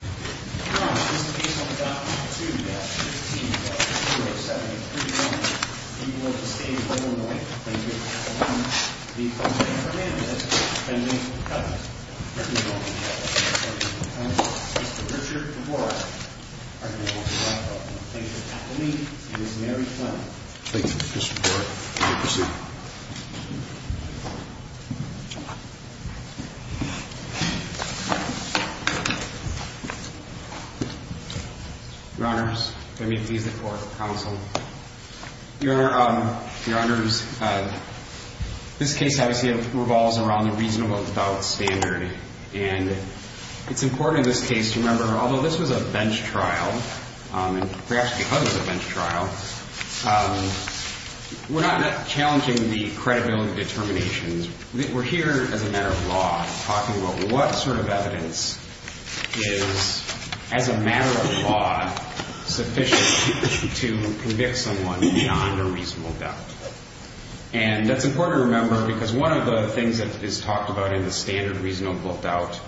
page. Thank you. Resource for the court, thank you for your testimony, and this may be final. Thank you, Mr. Court. You may proceed. Your Honors, if I may please the court, counsel, Your Honors, this case obviously revolves around the reasonable without standard, and it's important in this case to remember, although this was a bench trial, and perhaps because it was a bench trial, we're not challenging the credibility determinations, we're here as a matter of law, talking about what sort of evidence is, as a matter of law, sufficient to convict someone beyond a reasonable doubt. And that's important to remember, because one of the things that is talked about in the standard reasonable doubt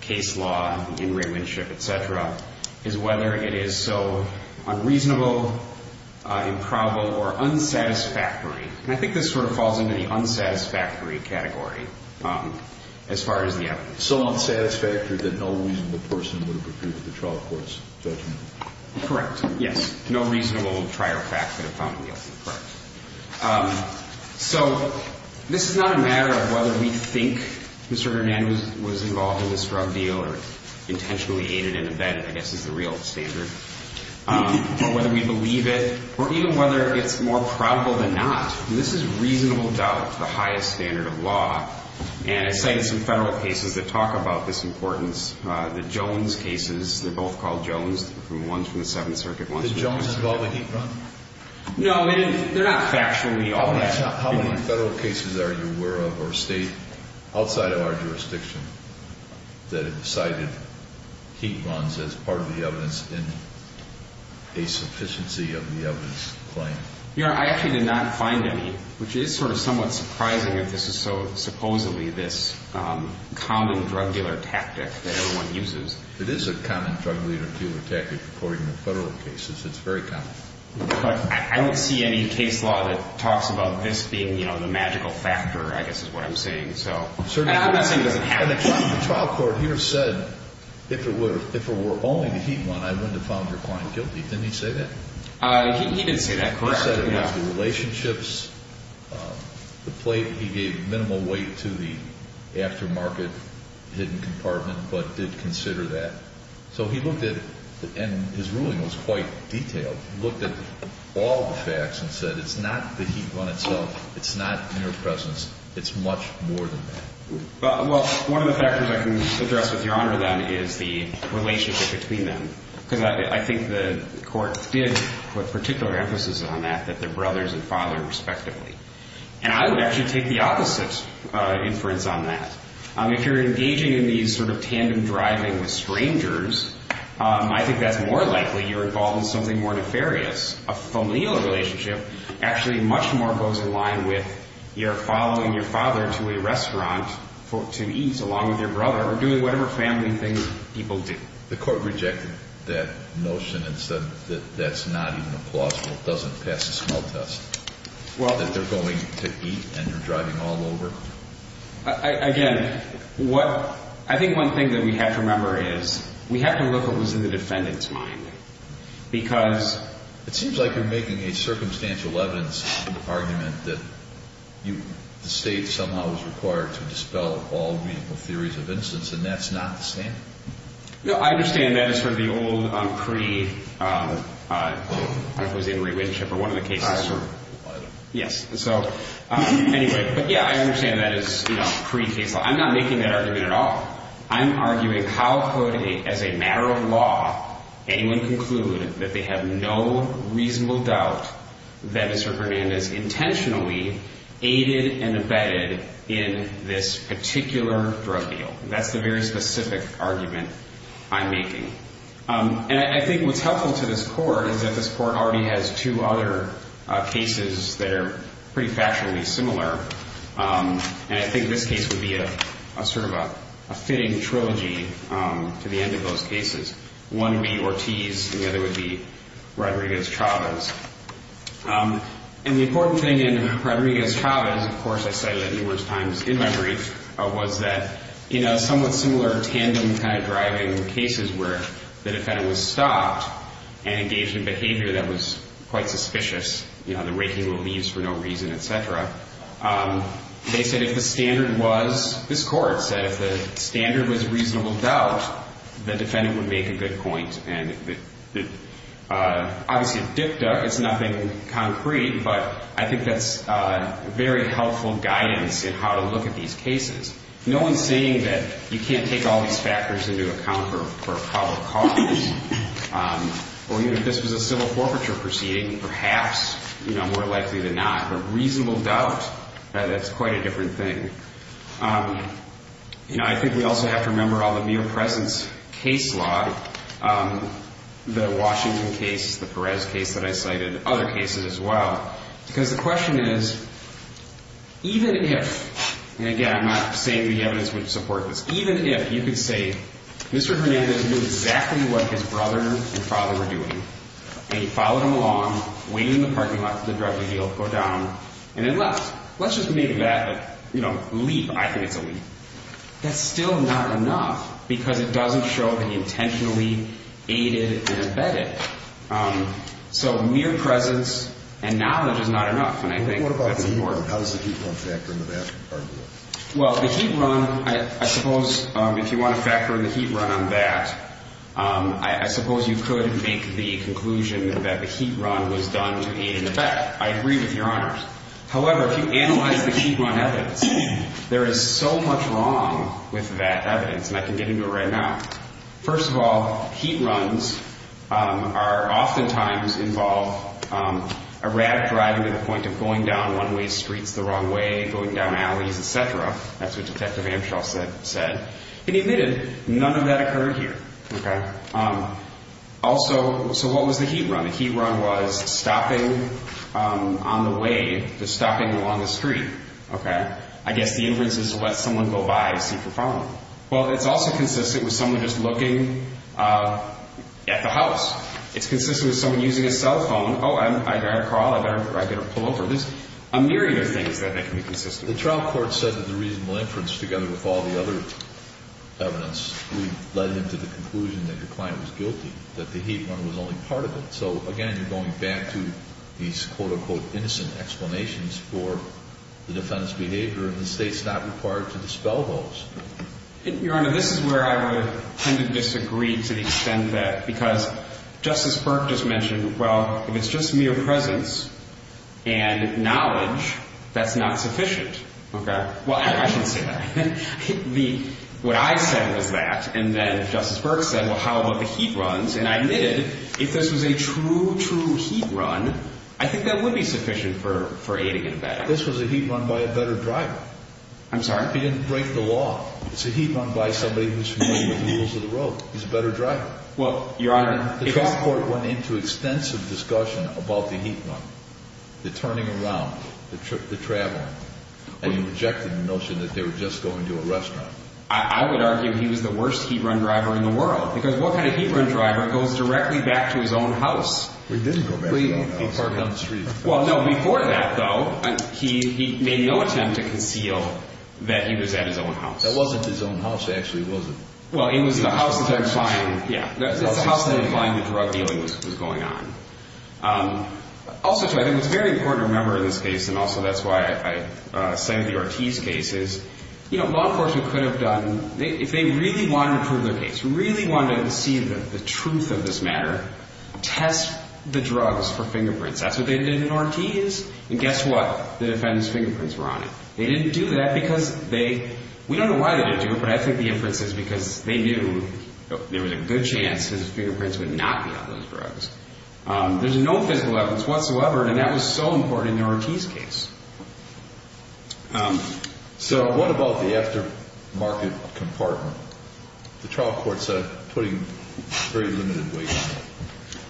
case law, in relationship, et cetera, is whether it is so unreasonable, improbable, or unsatisfactory, and I think this sort of falls into the unsatisfactory category, as far as the evidence. So unsatisfactory that no reasonable person would have appeared at the trial court's judgment? Correct, yes. No reasonable trial fact would have found him guilty, correct. So, this is not a matter of whether we think Mr. Hernandez was involved in this drug deal, or intentionally aided in the bed, I guess, is the real standard, or whether we believe it, or even whether it's more probable than not. This is reasonable doubt, the highest standard of law, and I cited some federal cases that talk about this importance, the Jones cases, they're both called Jones, the ones from the Seventh Circuit, ones from the Justice Department. The Jones is the one that he brought? No, they're not factually all that. How many federal cases are you aware of, or state, outside of our jurisdiction, that have cited heat runs as part of the evidence in a sufficiency of the evidence claim? Your Honor, I actually did not find any, which is sort of somewhat surprising if this is so, supposedly, this common drug dealer tactic that everyone uses. It is a common drug dealer tactic, according to federal cases, it's very common. I don't see any case law that talks about this being the magical factor, I guess is what I'm saying. I'm not saying it doesn't happen. The trial court here said, if it were only the heat run, I wouldn't have found your client guilty. Didn't he say that? He didn't say that, correct. He said it was the relationships, the plate, he gave minimal weight to the aftermarket hidden compartment, but did consider that. So he looked at, and his ruling was quite detailed, looked at all the facts and said it's not the heat run itself, it's not mere presence, it's much more than that. Well, one of the factors I can address with your Honor, then, is the relationship between them. Because I think the court did put particular emphasis on that, that they're brothers and father, respectively. And I would actually take the opposite inference on that. If you're engaging in these sort of tandem driving with strangers, I think that's more likely you're involved in something more nefarious. A familial relationship actually much more goes in line with your following your father to a restaurant to eat along with your brother, or doing whatever family things people do. The court rejected that notion and said that that's not even a plausible, doesn't pass the smell test. That they're going to eat and you're driving all over? Again, I think one thing that we have to remember is we have to look at what was in the defendant's mind. Because... It seems like you're making a circumstantial evidence argument that the state somehow was required to dispel all meaningful theories of instance, and that's not the standard? No, I understand that as sort of the old pre-requisite relationship, or one of the cases. Yes. Anyway, but yeah, I understand that as pre-case law. I'm not making that argument at all. I'm arguing how could, as a matter of law, anyone conclude that they have no reasonable doubt that Mr. Hernandez intentionally aided and abetted in this particular drug deal? That's the very specific argument I'm making. I think what's helpful to this court is that this court already has two other cases that are pretty factually similar, and I think this case would be a sort of a fitting trilogy to the end of those cases. One would be Ortiz, and the other would be Rodriguez-Chavez. And the important thing in Rodriguez-Chavez, of course I cited it numerous times in my brief, was that somewhat similar tandem kind of driving cases where the defendant was stopped and engaged in behavior that was quite suspicious, you know, the way he relieves for no reason, et cetera. They said if the standard was, this court said, if the standard was reasonable doubt, the defendant would make a good point. And obviously a dicta is nothing concrete, but I think that's very helpful guidance in how to look at these cases. No one's saying that you can't take all these factors into account for public cause, or even if this was a civil forfeiture proceeding, perhaps, you know, more likely than not. But reasonable doubt, that's quite a different thing. You know, I think we also have to remember all the mere presence case law, the Washington case, the Perez case that I cited, other cases as well. Because the question is, even if, and again, I'm not saying the evidence would support this, even if you could say Mr. Hernandez knew exactly what his brother and father were doing, and he followed them along, waited in the parking lot for the drug deal, go down, and then left. Let's just make that, you know, a leap. I think it's a leap. That's still not enough, because it doesn't show that he intentionally aided and abetted. So mere presence and knowledge is not enough, and I think that's important. How does the heat run factor into that argument? Well, the heat run, I suppose, if you want to factor in the heat run on that, I suppose you could make the conclusion that the heat run was done to aid and abet. I agree with Your Honors. However, if you analyze the heat run evidence, there is so much wrong with that evidence, and I can get into it right now. First of all, heat runs are oftentimes involved, erratic driving to the point of going down one-way streets the wrong way, going down alleys, et cetera. That's what Detective Amshaw said. And he admitted none of that occurred here. Also, so what was the heat run? The heat run was stopping on the way, just stopping along the street. I guess the inference is to let someone go by and see if you're following. Well, it's also consistent with someone just looking at the house. It's consistent with someone using a cell phone. Oh, I got a call. I better pull over. There's a myriad of things that can be consistent. The trial court said that the reasonable inference, together with all the other evidence, we led them to the conclusion that your client was guilty, that the heat run was only part of it. So, again, you're going back to these quote-unquote innocent explanations for the defendant's behavior, and the State's not required to dispel those. Your Honor, this is where I would tend to disagree to the extent that, because Justice Burke just mentioned, well, if it's just mere presence and knowledge, that's not sufficient. Well, I shouldn't say that. What I said was that, and then Justice Burke said, well, how about the heat runs? And I admitted, if this was a true, true heat run, I think that would be sufficient for aiding and abetting. This was a heat run by a better driver. I'm sorry? He didn't break the law. It's a heat run by somebody who's familiar with the rules of the road. He's a better driver. Well, Your Honor. The trial court went into extensive discussion about the heat run, the turning around, the traveling, and you rejected the notion that they were just going to a restaurant. I would argue he was the worst heat run driver in the world, because what kind of heat run driver goes directly back to his own house? He didn't go back to his own house. Well, no, before that, though, he made no attempt to conceal that he was at his own house. That wasn't his own house, actually, was it? Well, it was the house that declined the drug dealing that was going on. Also, too, I think it's very important to remember in this case, and also that's why I cited the Ortiz case, is law enforcement could have done, if they really wanted to prove their case, really wanted to see the truth of this matter, test the drugs for fingerprints. That's what they did in Ortiz, and guess what? The defendant's fingerprints were on it. They didn't do that because they, we don't know why they didn't do it, but I think the inference is because they knew there was a good chance his fingerprints would not be on those drugs. There's no physical evidence whatsoever, and that was so important in the Ortiz case. So what about the aftermarket compartment? The trial court said putting very limited weight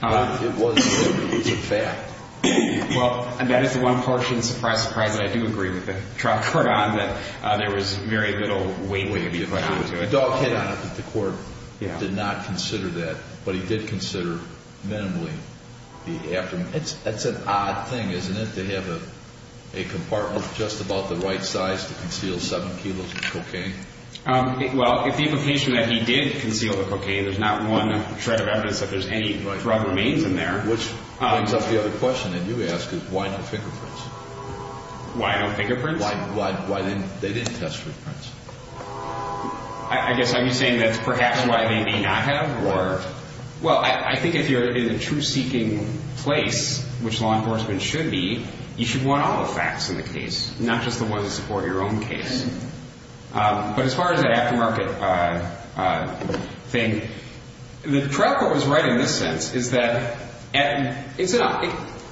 on it. It wasn't limited, it was a fact. Well, that is the one portion, surprise, surprise, that I do agree with the trial court on, that there was very little weight weight to be put on it. The court did not consider that, but he did consider minimally the aftermarket. That's an odd thing, isn't it, to have a compartment just about the right size to conceal seven kilos of cocaine? Well, if the implication that he did conceal the cocaine, there's not one shred of evidence that there's any drug remains in there. Which brings up the other question that you ask, is why no fingerprints? Why no fingerprints? Why didn't they test for fingerprints? I guess I'm saying that's perhaps why they may not have, or... Well, I think if you're in a truth-seeking place, which law enforcement should be, you should want all the facts in the case, not just the ones that support your own case. But as far as that aftermarket thing, the trial court was right in this sense, is that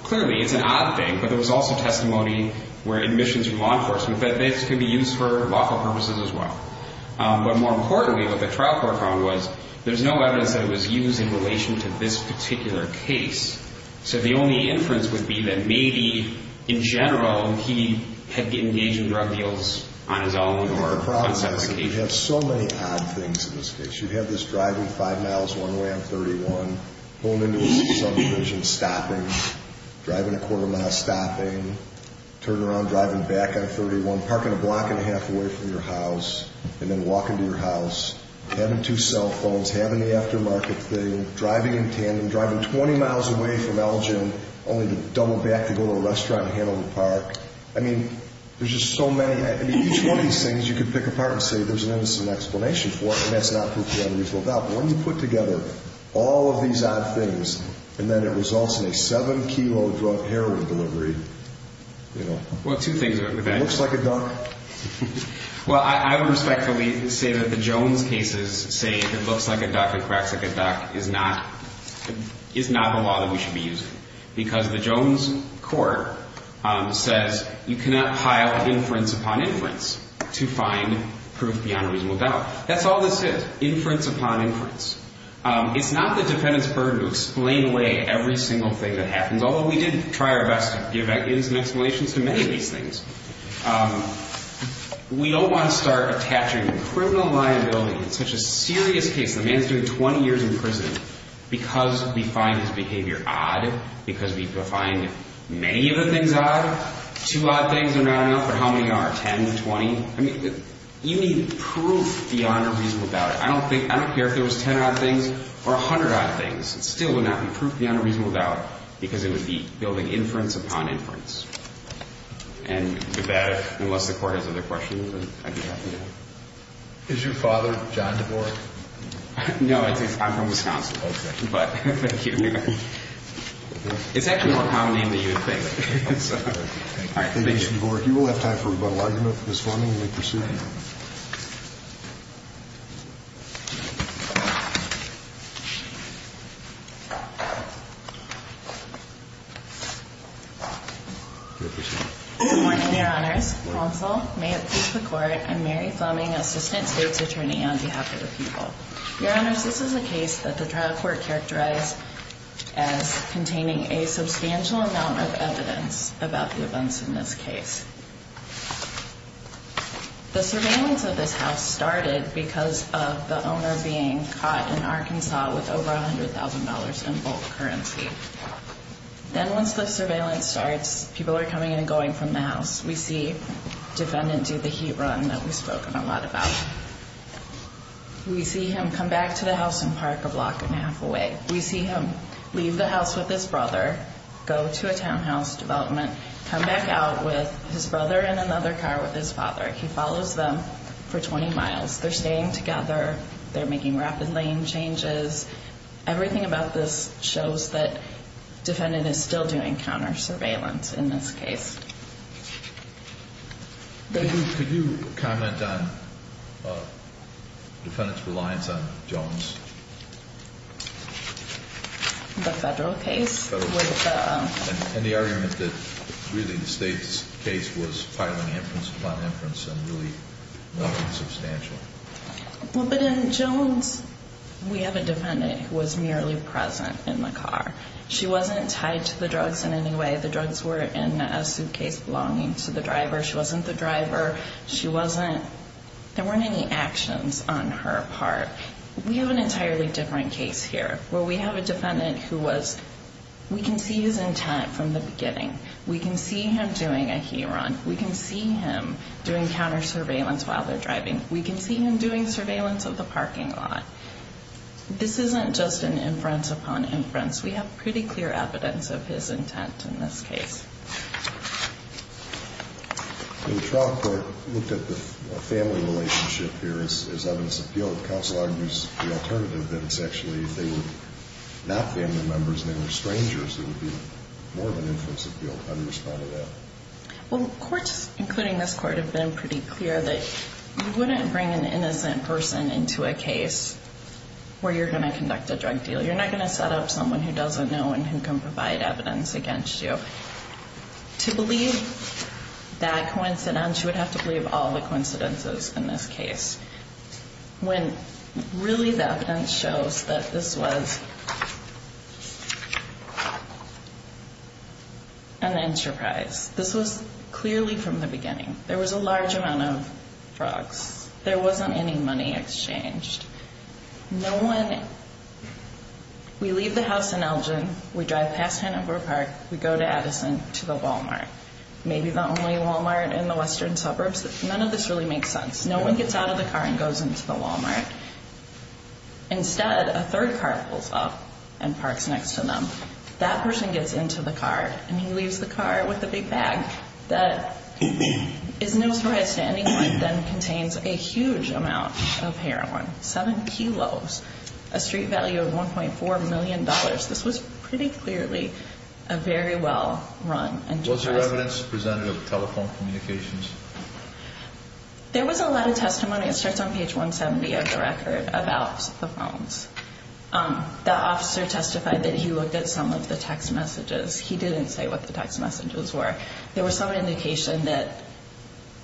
clearly it's an odd thing, but there was also testimony where admissions from law enforcement, that this could be used for lawful purposes as well. But more importantly, what the trial court found was, there's no evidence that it was used in relation to this particular case. So the only inference would be that maybe, in general, he had engaged in drug deals on his own or on separate occasions. The problem is that you have so many odd things in this case. You have this driving five miles one way on 31, pulling into a subdivision, stopping, driving a quarter mile, stopping, turn around, driving back on 31, parking a block and a half away from your house, and then walking to your house, having two cell phones, having the aftermarket thing, driving in tandem, driving 20 miles away from Elgin, only to double back to go to a restaurant and handle the park. I mean, there's just so many. I mean, each one of these things, you could pick apart and say, there's an innocent explanation for it, and that's not proof you have a mutual doubt. But when you put together all of these odd things, and then it results in a seven-kilo drug heroin delivery, you know. Well, two things about that. It looks like a duck. Well, I would respectfully say that the Jones cases say that it looks like a duck, it cracks like a duck, is not the law that we should be using, because the Jones court says you cannot pile inference upon inference to find proof beyond a reasonable doubt. That's all this is, inference upon inference. It's not the defendant's burden to explain away every single thing that happens, although we did try our best to give evidence and explanations to many of these things. We don't want to start attaching criminal liability to such a serious case. The man's doing 20 years in prison because we find his behavior odd, because we find many of the things odd. Two odd things are not enough, but how many are, 10, 20? I mean, you need proof beyond a reasonable doubt. I don't care if there was 10 odd things or 100 odd things. It still would not be proof beyond a reasonable doubt, because it would be building inference upon inference. And with that, unless the Court has other questions, I'd be happy to. Is your father John Dvorak? No, I'm from Wisconsin. Okay. But thank you. It's actually a more common name than you would think. All right, thank you. Thank you, Mr. Dvorak. You will have time for rebuttal argument. Ms. Forman, you may proceed. Thank you. Good morning, Your Honors. Counsel, may it please the Court, I'm Mary Fleming, Assistant State's Attorney on behalf of the people. Your Honors, this is a case that the trial court characterized as containing a substantial amount of evidence about the events in this case. The surveillance of this house started because of the owner being caught in Arkansas with over $100,000 in bulk currency. Then once the surveillance starts, people are coming and going from the house. We see defendant do the heat run that we've spoken a lot about. We see him come back to the house and park a block and a half away. We see him leave the house with his brother, go to a townhouse development, come back out with his brother in another car with his father. He follows them for 20 miles. They're staying together. They're making rapid lane changes. Everything about this shows that defendant is still doing counter-surveillance in this case. Could you comment on defendant's reliance on Jones? The federal case? Federal case. And the argument that really the state's case was filing inference upon inference and really nothing substantial. But in Jones, we have a defendant who was merely present in the car. She wasn't tied to the drugs in any way. The drugs were in a suitcase belonging to the driver. She wasn't the driver. There weren't any actions on her part. We have an entirely different case here where we have a defendant who was, we can see his intent from the beginning. We can see him doing a he-run. We can see him doing counter-surveillance while they're driving. We can see him doing surveillance of the parking lot. This isn't just an inference upon inference. We have pretty clear evidence of his intent in this case. The trial court looked at the family relationship here as evidence of guilt. If the federal counsel argues the alternative, then it's actually if they were not family members and they were strangers, it would be more of an inference of guilt. How do you respond to that? Well, courts, including this court, have been pretty clear that you wouldn't bring an innocent person into a case where you're going to conduct a drug deal. You're not going to set up someone who doesn't know and who can provide evidence against you. To believe that coincidence, you would have to believe all the coincidences in this case. Really, the evidence shows that this was an enterprise. This was clearly from the beginning. There was a large amount of drugs. There wasn't any money exchanged. We leave the house in Elgin, we drive past Hanover Park, we go to Addison, to the Walmart. Maybe the only Walmart in the western suburbs. None of this really makes sense. No one gets out of the car and goes into the Walmart. Instead, a third car pulls up and parks next to them. That person gets into the car, and he leaves the car with a big bag that is no surprise to anyone, then contains a huge amount of heroin, 7 kilos, a street value of $1.4 million. This was pretty clearly a very well-run enterprise. Was there evidence presented of telephone communications? There was a lot of testimony. It starts on page 170 of the record about the phones. The officer testified that he looked at some of the text messages. He didn't say what the text messages were. There was some indication that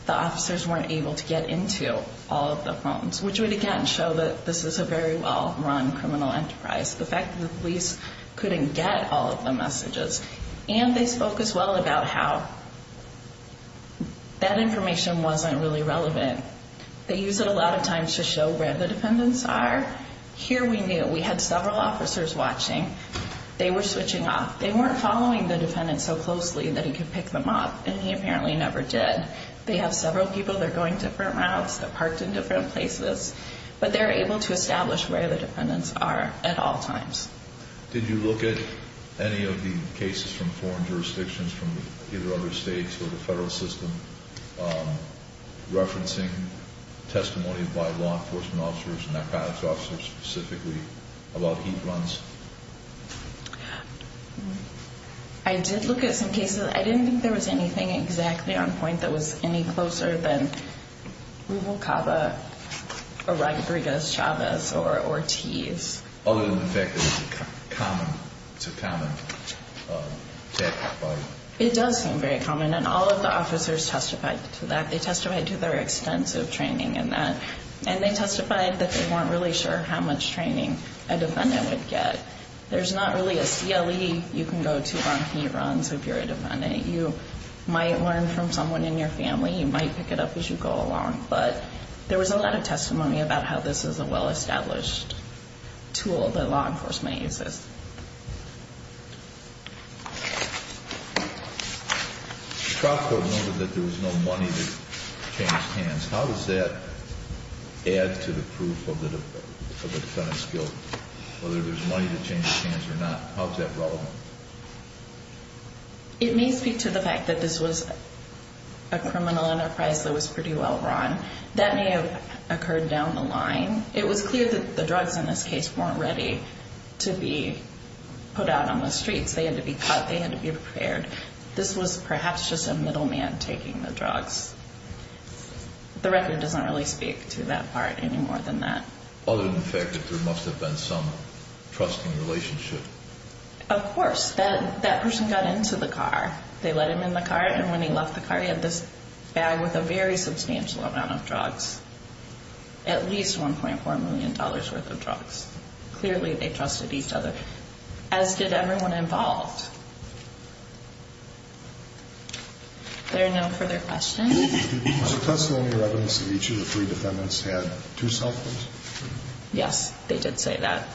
the officers weren't able to get into all of the phones, which would, again, show that this is a very well-run criminal enterprise. The fact that the police couldn't get all of the messages, and they spoke as well about how that information wasn't really relevant. They used it a lot of times to show where the defendants are. Here we knew. We had several officers watching. They were switching off. They weren't following the defendant so closely that he could pick them up, and he apparently never did. They have several people that are going different routes, that are parked in different places, but they're able to establish where the defendants are at all times. Did you look at any of the cases from foreign jurisdictions from either other states or the federal system referencing testimony by law enforcement officers and narcotics officers specifically about heat runs? I did look at some cases. I didn't think there was anything exactly on point that was any closer than Rubalcaba or Rodriguez Chavez or Ortiz. Other than the fact that it's a common tagline. It does seem very common, and all of the officers testified to that. They testified to their extensive training in that, and they testified that they weren't really sure how much training a defendant would get. There's not really a CLE you can go to on heat runs if you're a defendant. You might learn from someone in your family. You might pick it up as you go along, but there was a lot of testimony about how this is a well-established tool that law enforcement uses. Scott noted that there was no money to change hands. How does that add to the proof of the defendant's guilt, whether there's money to change hands or not? How is that relevant? It may speak to the fact that this was a criminal enterprise that was pretty well run. That may have occurred down the line. It was clear that the drugs in this case weren't ready to be put out on the streets. They had to be cut. They had to be repaired. This was perhaps just a middleman taking the drugs. The record doesn't really speak to that part any more than that. Other than the fact that there must have been some trusting relationship? Of course. That person got into the car. They let him in the car, and when he left the car, he had this bag with a very substantial amount of drugs, at least $1.4 million worth of drugs. Clearly, they trusted each other, as did everyone involved. Are there no further questions? Was there testimony or evidence that each of the three defendants had two cell phones? Yes, they did say that.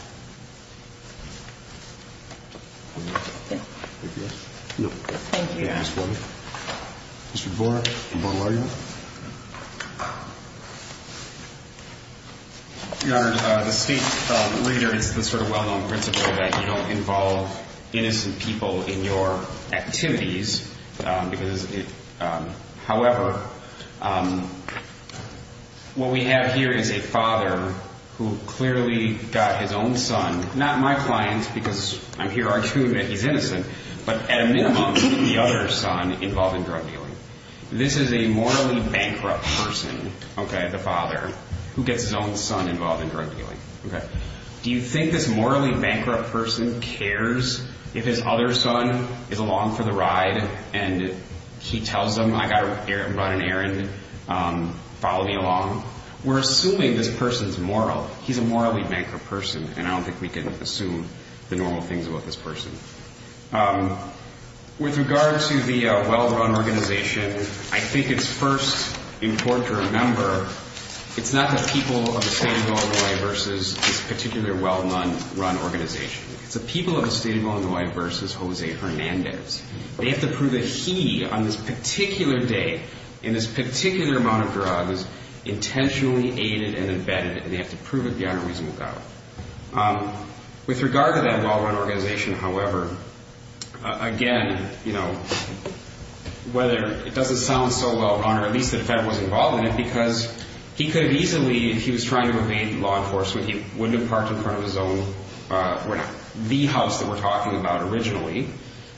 Anything else? No. Thank you. Mr. Borek? Your Honor, the state leader, it's the sort of well-known principle that you don't involve innocent people in your activities. However, what we have here is a father who clearly got his own son, not my client because I'm here arguing that he's innocent, but at a minimum, the other son involved in drug dealing. This is a morally bankrupt person, the father, who gets his own son involved in drug dealing. Do you think this morally bankrupt person cares if his other son is along for the ride and he tells them, I've got to run an errand, follow me along? We're assuming this person's moral. He's a morally bankrupt person, and I don't think we can assume the normal things about this person. With regard to the well-run organization, I think it's first important to remember it's not the people of the state of Illinois versus this particular well-run organization. It's the people of the state of Illinois versus Jose Hernandez. They have to prove that he, on this particular day, in this particular amount of drugs, intentionally aided and abetted it, and they have to prove it beyond a reasonable doubt. With regard to that well-run organization, however, again, whether it doesn't sound so well-run, or at least the federal was involved in it, because he could have easily, if he was trying to evade law enforcement, he wouldn't have parked in front of his own, the house that we're talking about originally.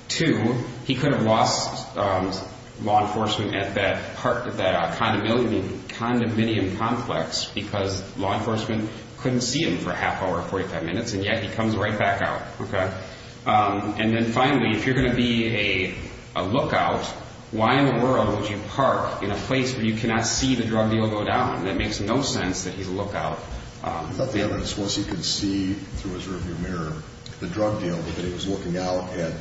Two, he could have lost law enforcement at that condominium complex because law enforcement couldn't see him for a half hour, 45 minutes, and yet he comes right back out. And then finally, if you're going to be a lookout, why in the world would you park in a place where you cannot see the drug deal go down? That makes no sense that he's a lookout. I thought the evidence was he could see through his rearview mirror the drug deal, but that he was looking out at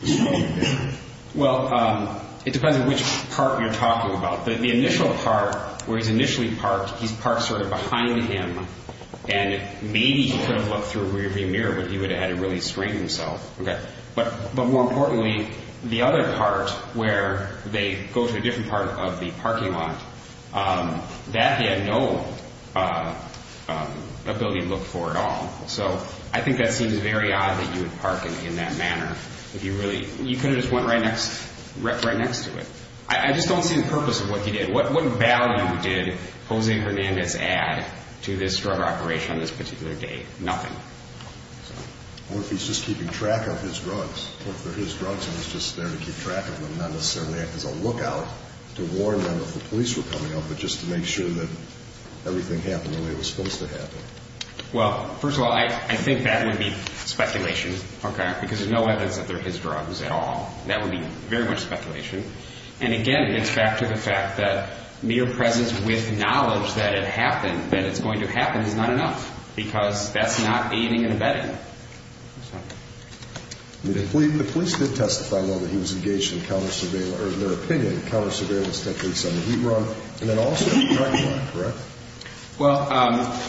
the evening. Well, it depends on which park you're talking about. The initial part where he's initially parked, he's parked sort of behind him, and maybe he could have looked through a rearview mirror, but he would have had to really strain himself. But more importantly, the other part where they go to a different part of the parking lot, that he had no ability to look for at all. So I think that seems very odd that you would park in that manner. You could have just went right next to it. I just don't see the purpose of what he did. What value did Jose Hernandez add to this drug operation on this particular day? Nothing. What if he's just keeping track of his drugs? What if they're his drugs and he's just there to keep track of them, not necessarily as a lookout to warn them if the police were coming up, but just to make sure that everything happened the way it was supposed to happen? Well, first of all, I think that would be speculation, because there's no evidence that they're his drugs at all. That would be very much speculation. And, again, it's back to the fact that mere presence with knowledge that it happened, that it's going to happen, is not enough, because that's not aiding and abetting. The police did testify, though, that he was engaged in counter-surveillance, or in their opinion, counter-surveillance techniques on the heat run, and then also on the drug run, correct? Well,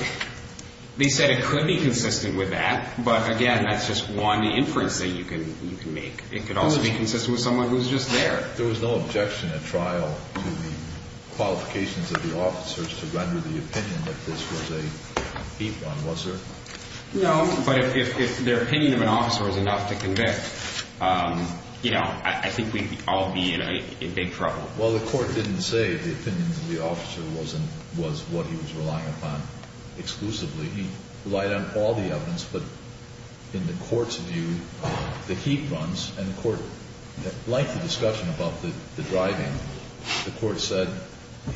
they said it could be consistent with that, but, again, that's just one inference that you can make. It could also be consistent with someone who's just there. There was no objection at trial to the qualifications of the officers to render the opinion that this was a heat run, was there? No, but if their opinion of an officer is enough to convict, I think we'd all be in big trouble. Well, the court didn't say the opinion of the officer was what he was relying upon exclusively. He relied on all the evidence, but in the court's view, the heat runs and the court liked the discussion about the driving. The court said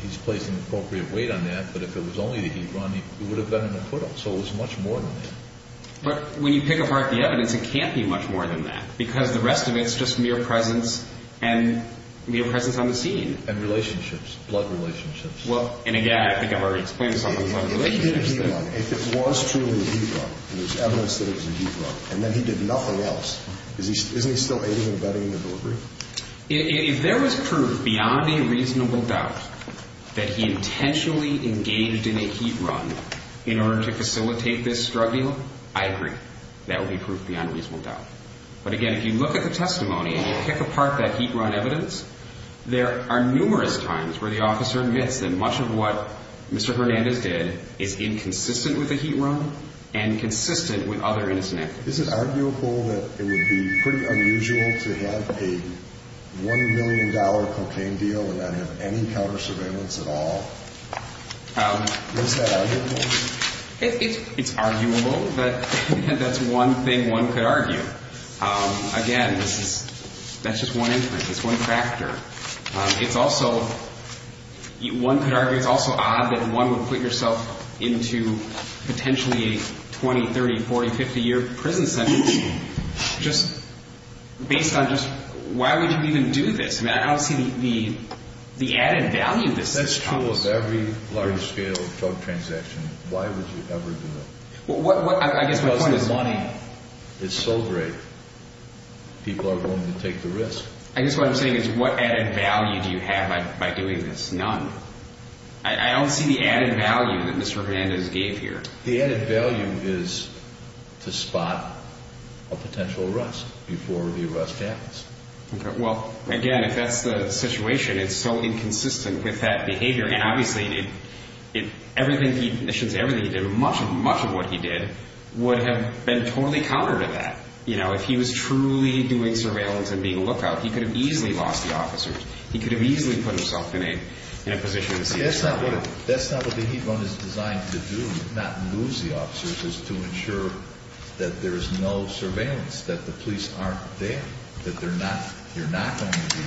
he's placed an appropriate weight on that, but if it was only the heat run, it would have been an acquittal, so it was much more than that. But when you pick apart the evidence, it can't be much more than that, because the rest of it is just mere presence and mere presence on the scene. And relationships, blood relationships. Well, and, again, I think I've already explained something about relationships. If it was truly a heat run, and there's evidence that it was a heat run, and then he did nothing else, isn't he still aiding and abetting the delivery? If there was proof beyond a reasonable doubt that he intentionally engaged in a heat run in order to facilitate this struggle, I agree. That would be proof beyond a reasonable doubt. But, again, if you look at the testimony and you pick apart that heat run evidence, there are numerous times where the officer admits that much of what Mr. Hernandez did is inconsistent with the heat run and consistent with other innocent activities. Is it arguable that it would be pretty unusual to have a $1 million cocaine deal and not have any counter surveillance at all? Is that arguable? It's arguable, but that's one thing one could argue. Again, that's just one inference. It's one factor. One could argue it's also odd that one would put yourself into potentially a 20-, 30-, 40-, 50-year prison sentence just based on just why would you even do this? I don't see the added value of this. That's true of every large-scale drug transaction. Why would you ever do it? Because the money is so great. People are willing to take the risk. I guess what I'm saying is what added value do you have by doing this? None. I don't see the added value that Mr. Hernandez gave here. The added value is to spot a potential arrest before the arrest happens. Okay. Well, again, if that's the situation, it's so inconsistent with that behavior. And, obviously, everything he did, much of what he did would have been totally counter to that. If he was truly doing surveillance and being a lookout, he could have easily lost the officers. He could have easily put himself in a position to see if someone would have. That's not what the heat run is designed to do, not lose the officers, is to ensure that there is no surveillance, that the police aren't there, that you're not going to be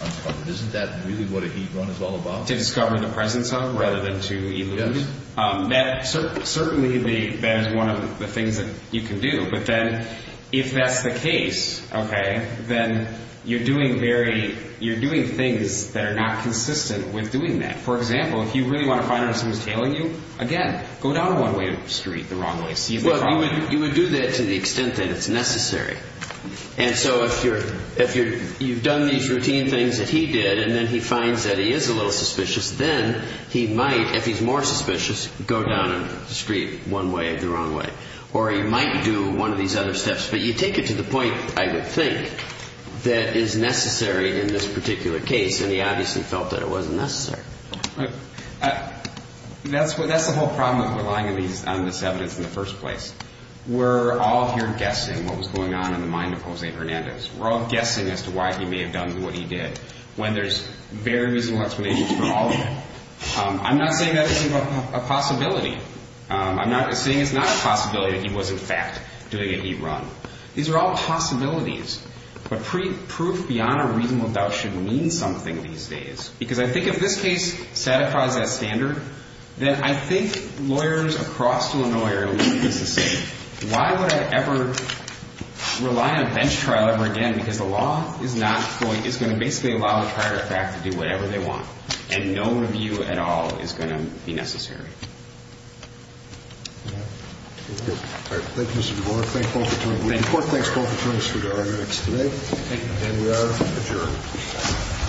uncovered. Isn't that really what a heat run is all about? Yes. Certainly that is one of the things that you can do. But then if that's the case, okay, then you're doing things that are not consistent with doing that. For example, if you really want to find out if someone is tailing you, again, go down one way street the wrong way. You would do that to the extent that it's necessary. And so if you've done these routine things that he did and then he finds that he is a little suspicious, then he might, if he's more suspicious, go down a street one way the wrong way. Or he might do one of these other steps. But you take it to the point, I would think, that is necessary in this particular case, and he obviously felt that it wasn't necessary. That's the whole problem with relying on this evidence in the first place. We're all here guessing what was going on in the mind of Jose Hernandez. We're all guessing as to why he may have done what he did. When there's very reasonable explanations for all of it. I'm not saying that isn't a possibility. I'm not saying it's not a possibility that he was, in fact, doing a heat run. These are all possibilities. But proof beyond a reasonable doubt should mean something these days. Because I think if this case satisfies that standard, then I think lawyers across Illinois are going to look at this and say, Why would I ever rely on a bench trial ever again? Because the law is going to basically allow the prior effect to do whatever they want. And no review at all is going to be necessary. Thank you, Mr. Duvall. Court, thanks both attorneys for your arguments today. Thank you. And we are adjourned.